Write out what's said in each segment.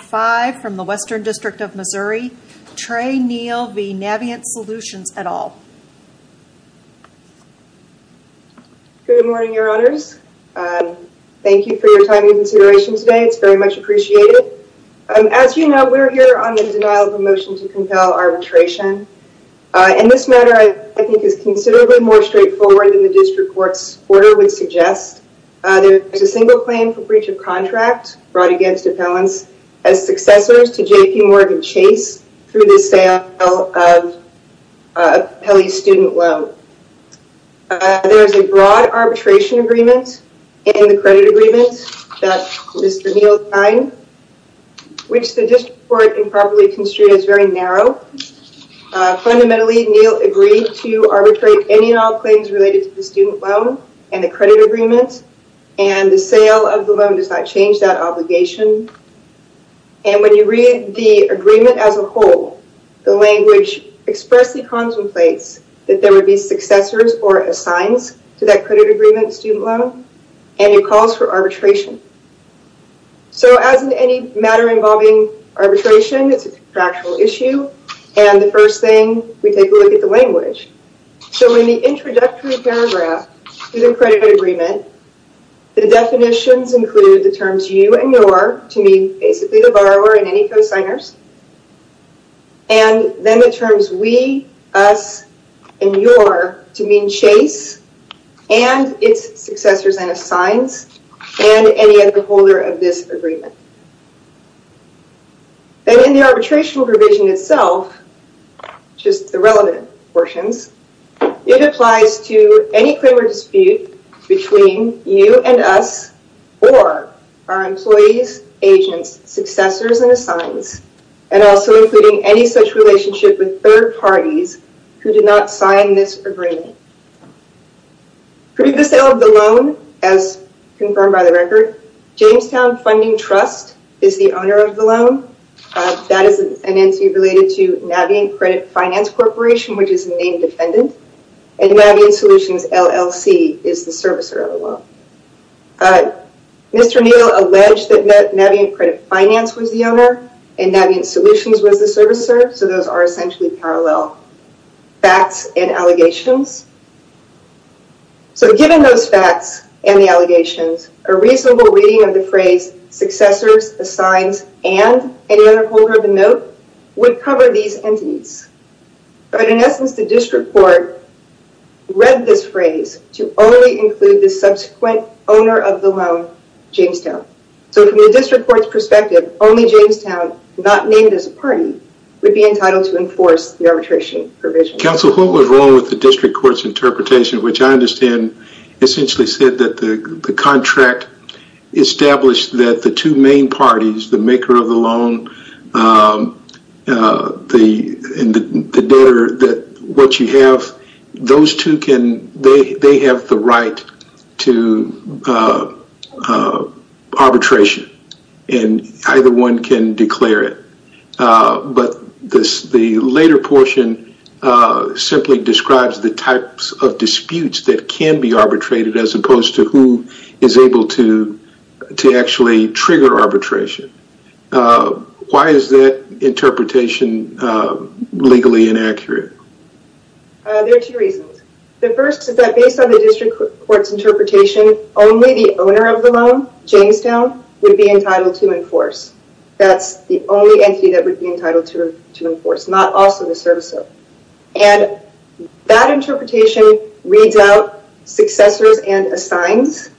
Five from the Western District of Missouri, Trey Neal v. Navient Solutions et al. Good morning, your honors. Thank you for your time and consideration today. It's very much appreciated. As you know, we're here on the denial of a motion to compel arbitration. And this matter, I think, is considerably more straightforward than the district court's order would suggest. There is a single claim for breach of contract brought against appellants as successors to J.P. Morgan Chase through the sale of Pelley's student loan. There is a broad arbitration agreement in the credit agreement that Mr. Neal signed, which the district court improperly construed as very narrow. Fundamentally, Neal agreed to arbitrate any and all claims related to the student loan and the credit agreement, and the sale of the loan does not change that obligation. And when you read the agreement as a whole, the language expressly contemplates that there would be successors or assigns to that credit agreement, student loan, and it calls for arbitration. So as in any matter involving arbitration, it's a factual issue. And the first thing we take a look at the language. So in the introductory paragraph to the credit agreement, the definitions include the terms you and your, to mean basically the borrower and any co-signers, and then the terms we, us, and your to mean Chase and its successors and assigns and any other holder of this agreement. Then in the arbitration provision itself, just the relevant portions, it applies to any claim or dispute between you and us, or our employees, agents, successors, and assigns, and also including any such relationship with third parties who did not sign this agreement. For the sale of the loan, as confirmed by the record, Jamestown Funding Trust is the owner of the loan. That is an entity related to Navient Credit Finance Corporation, which is the main defendant, and Navient Solutions LLC is the servicer of the loan. Mr. Neal alleged that Navient Credit Finance was the owner and Navient Solutions was the servicer, so those are essentially parallel facts and allegations. So given those facts and the allegations, a reasonable reading of the phrase successors, assigns, and any other holder of the note would cover these entities. But in essence, the district court read this phrase to only include the subsequent owner of the loan, Jamestown. So from the district court's perspective, only Jamestown, not named as a party, would be entitled to enforce the arbitration provision. Counsel, what was wrong with the district court's interpretation, which I understand essentially said that the contract established that the two main parties, the maker of the loan and the debtor, that what you have, those two can, they have the right to arbitration, and either one can declare it. But the later portion simply describes the types of disputes that can be arbitrated as opposed to who is able to actually trigger arbitration. Why is that interpretation legally inaccurate? There are two reasons. The first is that based on the district court's interpretation, only the owner of the loan, Jamestown, would be entitled to enforce. That's the only entity that would be entitled to enforce, not also the servicer. And that interpretation reads out successors and assigns,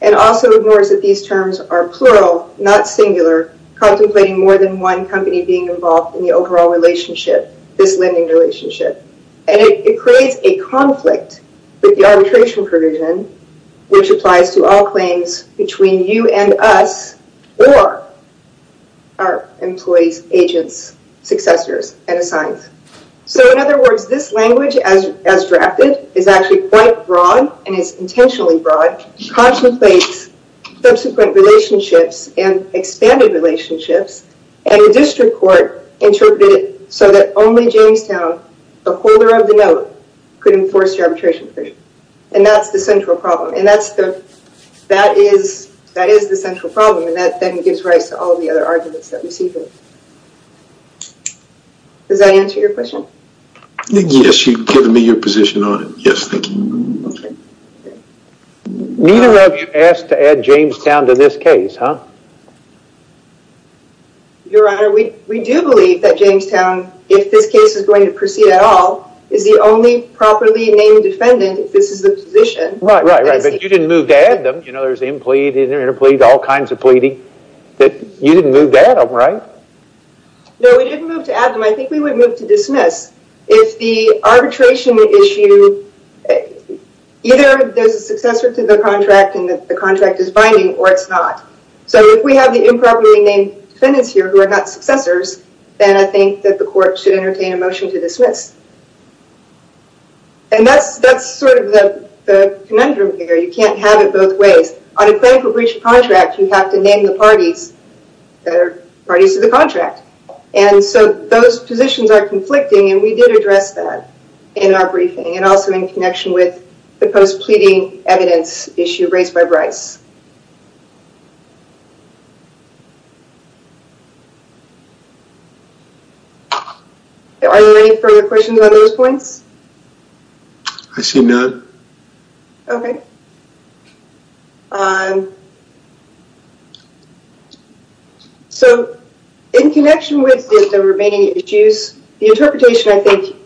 and also ignores that these terms are plural, not singular, contemplating more than one company being involved in the overall relationship, this lending relationship. And it creates a conflict with the arbitration provision, which applies to all claims between you and us or our employees, agents, successors, and assigns. So in other words, this language as drafted is actually quite broad and is intentionally broad, contemplates subsequent relationships and expanded relationships, and the district court interpreted it so that only Jamestown, the holder of the note, could enforce the arbitration provision. And that's the central problem. And that is the central problem, and that then gives rise to all the other arguments that we see here. Does that answer your question? Yes, you've given me your position on it. Yes, thank you. Neither of you asked to add Jamestown to this case, huh? Your Honor, we do believe that Jamestown, if this case is going to proceed at all, is the only properly named defendant if this is the position. Right, right, right. But you didn't move to add them. You know, there's impleed, interpleed, all kinds of pleading. You didn't move to add them, right? No, we didn't move to add them. I think we would move to dismiss. If the arbitration issue, either there's a successor to the contract and the contract is binding or it's not. So if we have the improperly named defendants here who are not successors, then I think that the court should entertain a motion to dismiss. And that's sort of the conundrum here. You can't have it both ways. On a claim for breach of contract, you have to name the parties that are parties to the contract. And so those positions are conflicting, and we did address that in our briefing and also in connection with the post-pleading evidence issue raised by Bryce. Are there any further questions on those points? I see none. Okay. Um. So in connection with the remaining issues, the interpretation I think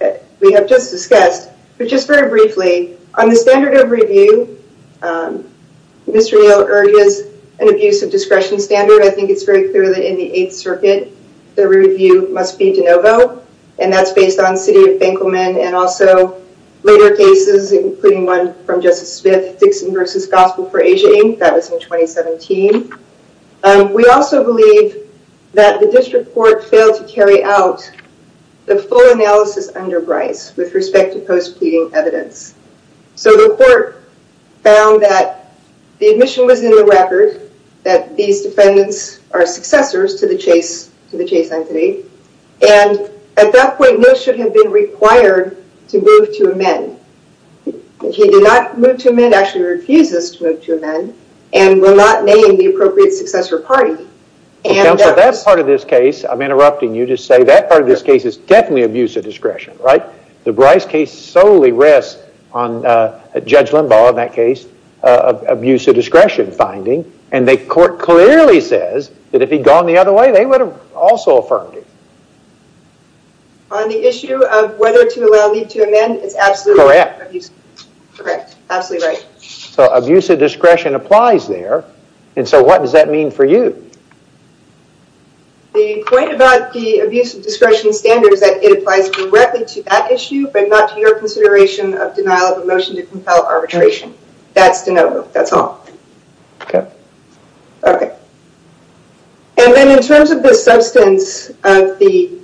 we have just discussed, but just very briefly, on the standard of review, Mr. Yale urges an abuse of discretion standard. I think it's very clear that in the Eighth Circuit, the review must be de novo, and that's based on and also later cases, including one from Justice Smith, Dixon v. Gospel for Asia Inc., that was in 2017. We also believe that the district court failed to carry out the full analysis under Bryce with respect to post-pleading evidence. So the court found that the admission was in the record that these defendants are successors to the Chase entity, and at that point, those should have been required to move to amend. If he did not move to amend, actually refuses to move to amend, and will not name the appropriate successor party. Counsel, that part of this case, I'm interrupting you to say that part of this case is definitely abuse of discretion, right? The Bryce case solely rests on Judge Limbaugh, in that case, abuse of discretion finding, and the court clearly says that if he'd gone the other way, they would have also affirmed it. On the issue of whether to allow Lee to amend, it's absolutely correct. Correct. Absolutely right. So abuse of discretion applies there, and so what does that mean for you? The point about the abuse of discretion standard is that it applies directly to that issue, but not to your consideration of denial of a motion to compel arbitration. That's de novo. That's all. Okay. Okay. And then in terms of the substance of the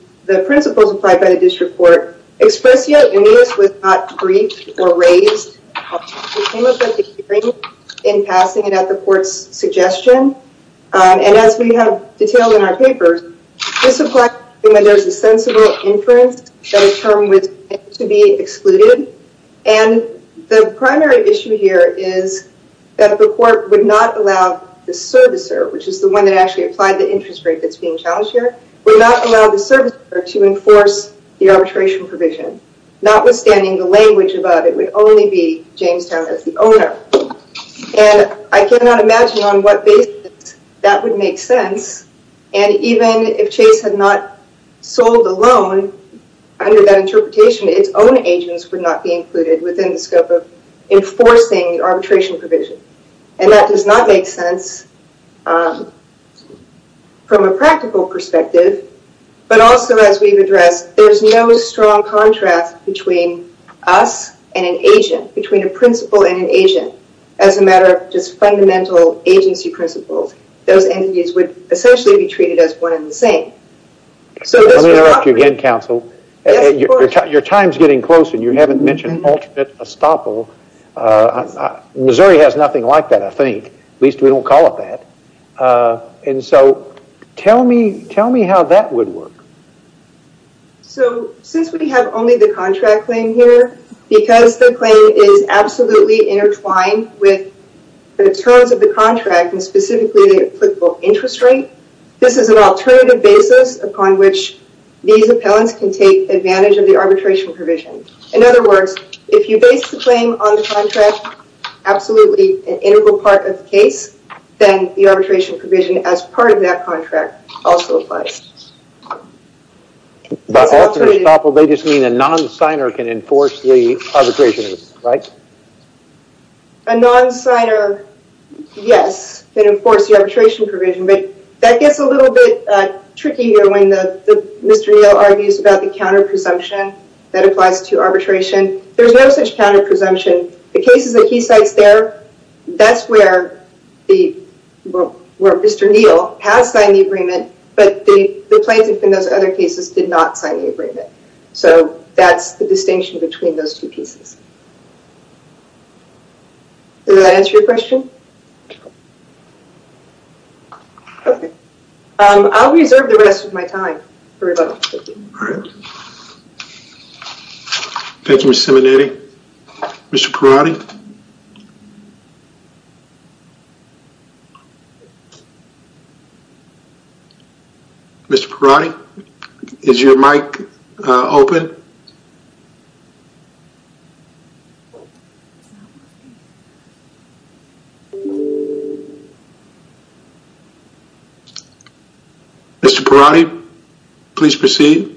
principles applied by the district court, expressio in this was not briefed or raised. We came up with the hearing in passing it at the court's suggestion, and as we have detailed in our papers, this applies when there's a sensible inference that a term was to be excluded, and the primary issue here is that the court would not allow the servicer, which is the one that actually applied the interest rate that's being challenged here, would not allow the servicer to enforce the arbitration provision, notwithstanding the language above. It would only be Jamestown as the owner, and I sold the loan under that interpretation. Its own agents would not be included within the scope of enforcing the arbitration provision, and that does not make sense from a practical perspective, but also as we've addressed, there's no strong contrast between us and an agent, between a principal and an agent. As a matter of just fundamental agency principles, those entities would essentially be treated as one and the same. Let me interrupt you again, counsel. Your time's getting close, and you haven't mentioned alternate estoppel. Missouri has nothing like that, I think. At least, we don't call it that. Tell me how that would work. Since we have only the contract claim here, because the claim is absolutely intertwined with the terms of the contract, and specifically the applicable interest rate, this is an alternative basis upon which these appellants can take advantage of the arbitration provision. In other words, if you base the claim on the contract, absolutely an integral part of the case, then the arbitration provision as part of that contract also applies. By alternate estoppel, they just enforce the arbitration provision, right? A non-signer, yes, can enforce the arbitration provision, but that gets a little bit tricky when Mr. Neal argues about the counter presumption that applies to arbitration. There's no such counter presumption. The cases that he cites there, that's where Mr. Neal has signed the agreement, but the plaintiff in those other cases did not that's the distinction between those two pieces. Does that answer your question? Okay, I'll reserve the rest of my time for rebuttal. Thank you, Ms. Simonetti. Mr. Perotti? Mr. Perotti, is your mic open? Mr. Perotti, please proceed.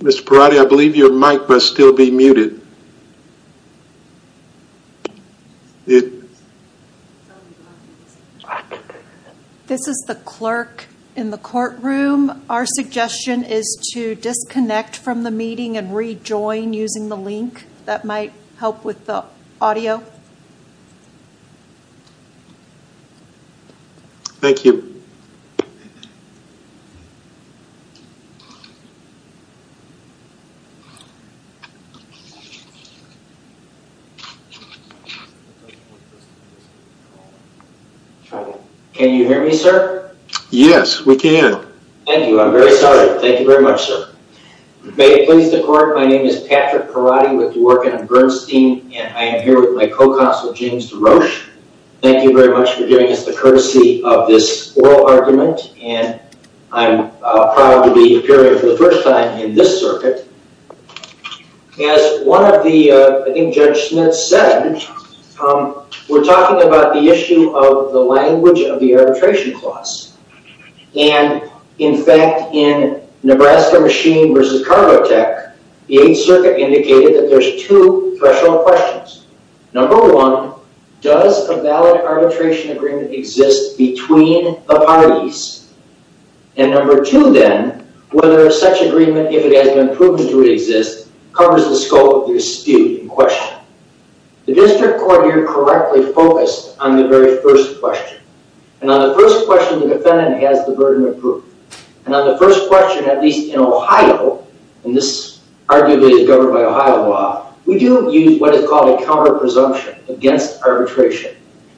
Mr. Perotti, I believe your mic must still be muted. This is the clerk in the courtroom. Our suggestion is to disconnect from the meeting and rejoin using the link. That might help with the audio. Thank you. Can you hear me, sir? Yes, we can. Thank you. I'm very sorry. Thank you very much, sir. May it please the court, my name is Patrick Perotti with Dworkin and Bernstein, and I am here with my co-counsel James DeRoche. Thank you very much for giving us the courtesy of this oral argument, and I'm proud to be appearing for the first time in this circuit. As one of the, I think Judge Smith said, we're talking about the issue of the language of the arbitration clause. And in fact, in Nebraska Machine versus Cargo Tech, the 8th Circuit indicated that there's two threshold questions. Number one, does a valid arbitration agreement exist between the parties? And number two, then, whether such agreement, if it has been proven to exist, covers the scope of the dispute in question. The district court here correctly focused on the very first question. And on the first question, the defendant has the burden of And on the first question, at least in Ohio, and this arguably is governed by Ohio law, we do use what is called a counter-presumption against arbitration.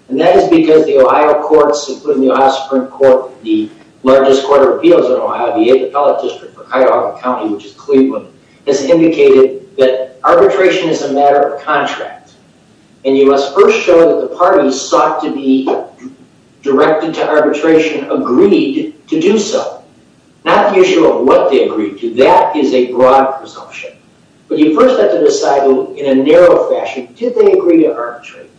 And that is because the Ohio courts, including the Ohio Supreme Court, the largest court of appeals in Ohio, the 8th Appellate District for Cuyahoga County, which is Cleveland, has indicated that arbitration is a matter of contract. And you must first show that the parties sought to be directed to arbitration agreed to do so. Not the issue of what they agreed to. That is a broad presumption. But you first have to decide in a narrow fashion, did they agree to arbitrate?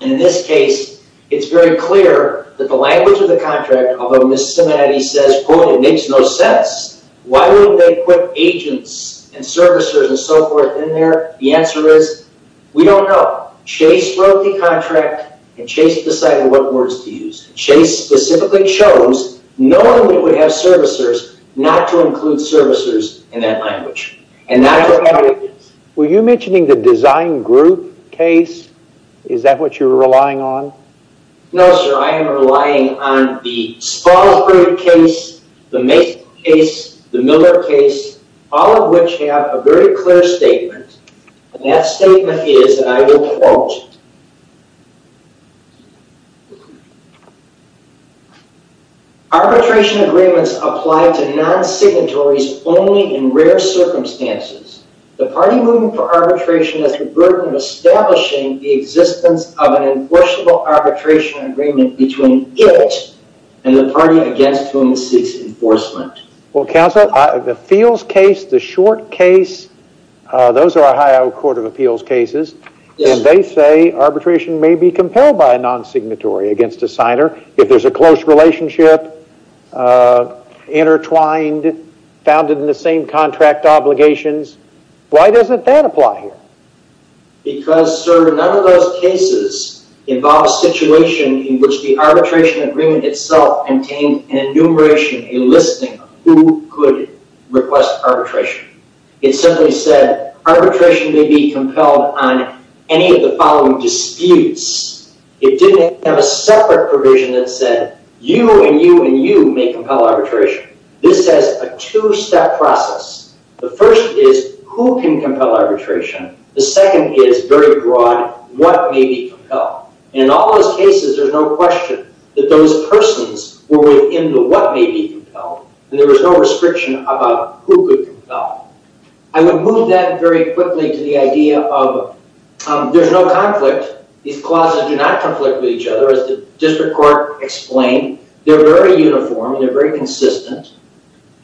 And in this case, it's very clear that the language of the contract, although Miss Simonetti says, boy, it makes no sense. Why would they put agents and servicers and so forth in there? The answer is, we don't know. Chase wrote the contract, and Chase decided what words to use. Chase specifically chose, knowing we would have servicers, not to include servicers in that language. Were you mentioning the design group case? Is that what you're relying on? No, sir. I am relying on the Spalding case, the Mason case, the Miller case, all of which have a very clear statement, and that statement is, and I will quote, Arbitration agreements apply to non-signatories only in rare circumstances. The party moving for arbitration has the burden of establishing the existence of an enforceable arbitration agreement between it and the party against whom it seeks enforcement. Well, counsel, the Fields case, the Short case, those are Ohio Court of Appeals cases, and they say arbitration may be compelled by a non-signatory against a signer if there's a close relationship, intertwined, founded in the same contract obligations. Why doesn't that apply here? Because, sir, none of those cases involve a situation in which the arbitration agreement itself contained an enumeration, a listing of who could request arbitration. It simply said arbitration may be compelled on any of the following disputes. It didn't have a separate provision that said you and you and you may compel arbitration. This has a two-step process. The first is, who can compel arbitration? The second is very broad, what may be compelled? And in all those cases, there's no question that those persons were within the what may be compelled, and there was no restriction about who could compel. I would move that very quickly to the idea of there's no conflict. These clauses do not conflict with each other, as the District very consistent,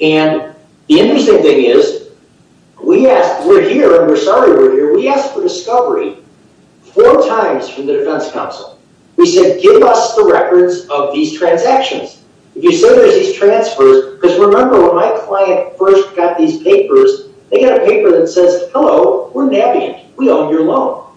and the interesting thing is, we asked, we're here, and we're sorry we're here, we asked for discovery four times from the Defense Council. We said give us the records of these transactions. If you say there's these transfers, because remember when my client first got these papers, they got a paper that says, hello, we're Navient, we own your loan.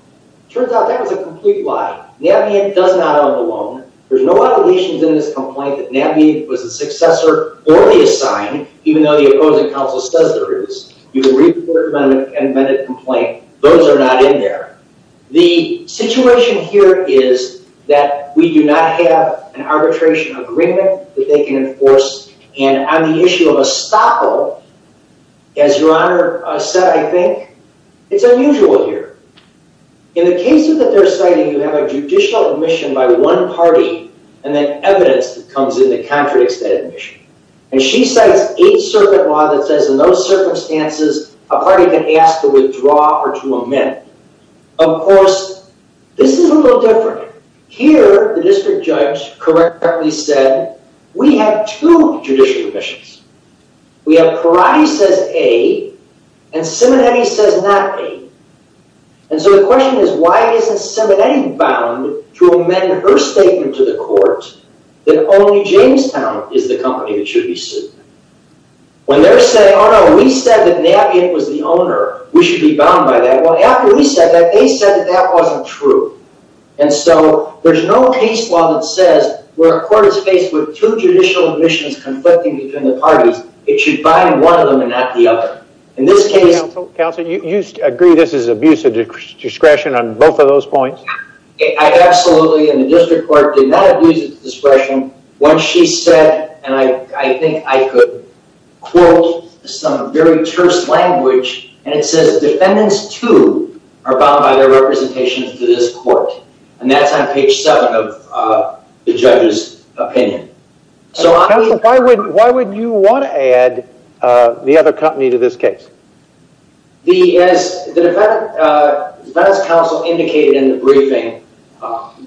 Turns out that was a complete lie. Navient does not own the loan. There's no allegations in this complaint that Navient was the successor or the assigned, even though the opposing counsel says there is. You can read the third amendment complaint. Those are not in there. The situation here is that we do not have an arbitration agreement that they can enforce, and on the issue of a stopper, as your honor said, it's unusual here. In the cases that they're citing, you have a judicial admission by one party, and then evidence that comes in that contradicts that admission, and she cites Eighth Circuit law that says in those circumstances, a party can ask to withdraw or to amend. Of course, this is a little different. Here, the District Judge correctly said, we have two judicial admissions. We have Perotti says A, and Simonetti says not A, and so the question is, why isn't Simonetti bound to amend her statement to the court that only Jamestown is the company that should be sued? When they're saying, oh no, we said that Navient was the owner. We should be bound by that. Well, after we said that, they said that that wasn't true, and so there's no case law that where a court is faced with two judicial admissions conflicting between the parties, it should bind one of them and not the other. In this case... Counselor, you agree this is abuse of discretion on both of those points? Absolutely, and the District Court did not abuse its discretion. Once she said, and I think I could quote some very terse language, and it says defendants too are bound by their representations to this court, and that's on page seven of the judge's opinion. Counselor, why would you want to add the other company to this case? As the Defendant's Counsel indicated in the briefing,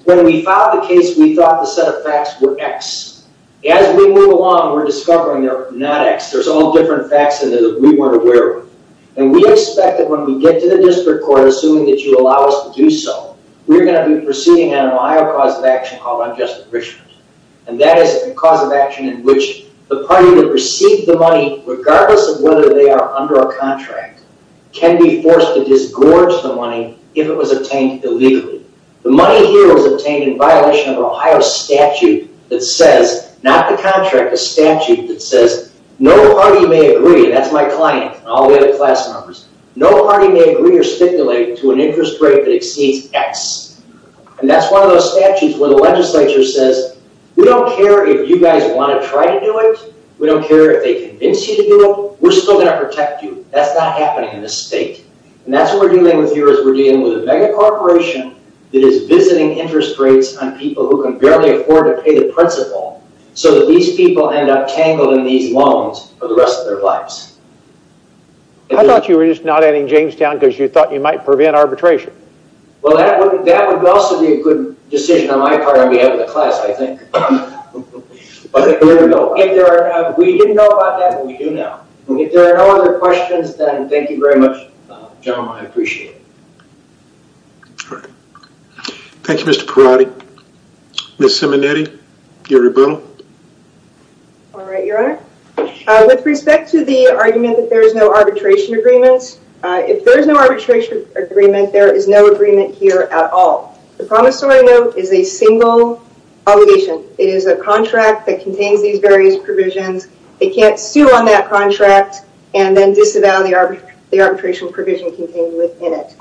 when we filed the case, we thought the set of facts were X. As we move along, we're discovering they're not X. There's all different facts that we weren't aware of, and we expect that when we get to the District Court, assuming that allows us to do so, we're going to be proceeding on an Ohio cause of action called unjust abrishment, and that is a cause of action in which the party that received the money, regardless of whether they are under a contract, can be forced to disgorge the money if it was obtained illegally. The money here was obtained in violation of an Ohio statute that says, not the contract, a statute that says no party may agree, that's my client and all the other class members, no party may agree or stipulate to an interest rate that exceeds X, and that's one of those statutes where the legislature says we don't care if you guys want to try to do it, we don't care if they convince you to do it, we're still going to protect you. That's not happening in this state, and that's what we're dealing with here is we're dealing with a mega corporation that is visiting interest rates on people who can barely afford to pay the principal so that these people end up ending Jamestown because you thought you might prevent arbitration. Well, that would also be a good decision on my part on behalf of the class, I think. We didn't know about that, but we do now. If there are no other questions, then thank you very much, General, I appreciate it. Thank you, Mr. Perotti. Ms. Simonetti, Gary Burrell. All right, Your Honor. With respect to the argument that there is no arbitration agreement, if there is no arbitration agreement, there is no agreement here at all. The promissory note is a single obligation. It is a contract that contains these various provisions, they can't sue on that contract and then disavow the arbitration provision contained within it.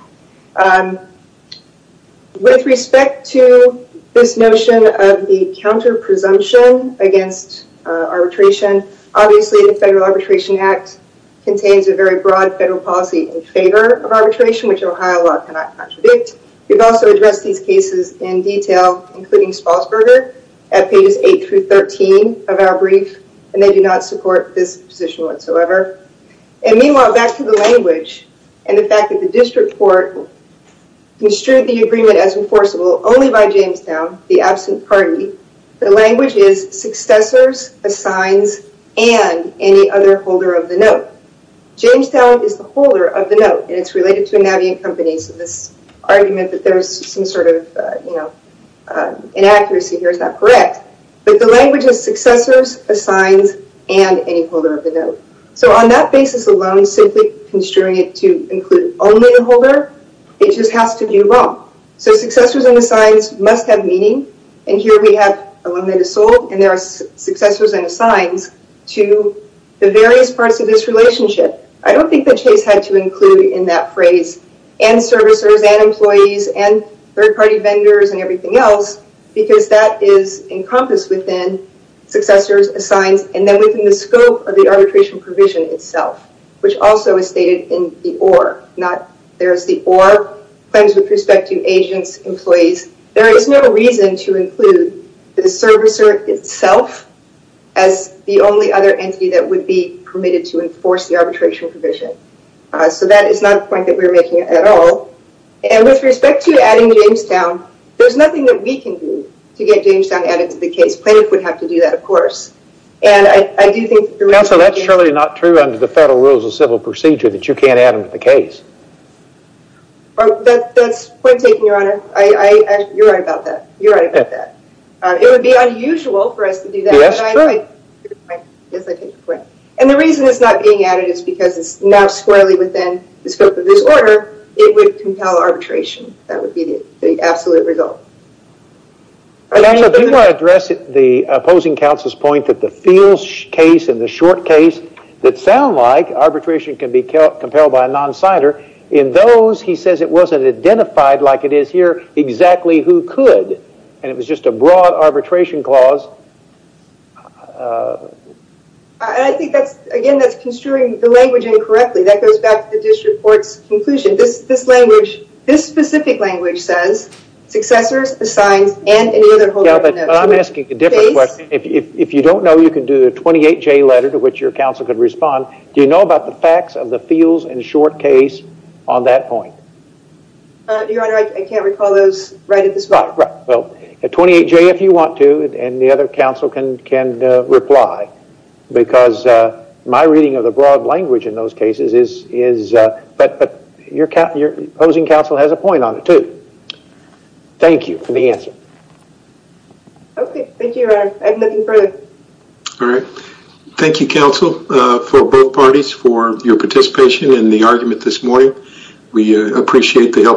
With respect to this notion of the counter presumption against arbitration, obviously, the Federal Arbitration Act contains a very broad federal policy in favor of arbitration, which Ohio law cannot contradict. We've also addressed these cases in detail, including Spassberger at pages 8 through 13 of our brief, and they do not support this position whatsoever. Meanwhile, back to the language and the fact that the district court construed the agreement as enforceable only by Jamestown, the absent party. The language is successors, assigns, and any other holder of the note. Jamestown is the holder of the note, and it's related to a Navient Company, so this argument that there's some sort of inaccuracy here is not correct, but the language is successors, assigns, and any holder of the note. On that basis alone, simply construing it to include only the holder, it just has to be wrong. Successors and assigns must have meaning, and here we have alumni to sold, and there are successors and assigns to the various parts of this relationship. I don't think that Chase had to include in that phrase, and servicers, and employees, and third-party vendors, and everything else, because that is encompassed successors, assigns, and then within the scope of the arbitration provision itself, which also is stated in the OR. There's the OR, claims with respect to agents, employees. There is no reason to include the servicer itself as the only other entity that would be permitted to enforce the arbitration provision, so that is not a point that we're making at all. With respect to adding Jamestown, there's nothing that we can do to get Jamestown added to the case. Plaintiffs would have to do that, of course, and I do think... Counselor, that's surely not true under the Federal Rules of Civil Procedure that you can't add them to the case. That's point taken, Your Honor. You're right about that. You're right about that. It would be unusual for us to do that. Yes, true. And the reason it's not being added is because it's not squarely within the scope of this order. It would compel arbitration. That would be the absolute result. Do you want to address the opposing counsel's point that the fields case and the short case that sound like arbitration can be compelled by a non-signer, in those he says it wasn't identified like it is here, exactly who could, and it was just a broad arbitration clause? I think that's, again, that's construing the language incorrectly. That goes back to the district court's conclusion. This language, this specific language says successors, the signs, and any other holder of the notes. I'm asking a different question. If you don't know, you can do the 28J letter to which your counsel could respond. Do you know about the facts of the fields and short case on that point? Your Honor, I can't recall those right at this moment. Well, the 28J if you want to, and the other counsel can reply because my reading of the broad in those cases, but your opposing counsel has a point on it too. Thank you for the answer. Okay. Thank you, Your Honor. I'm looking forward. All right. Thank you, counsel, for both parties for your participation in the argument this morning. We appreciate the help you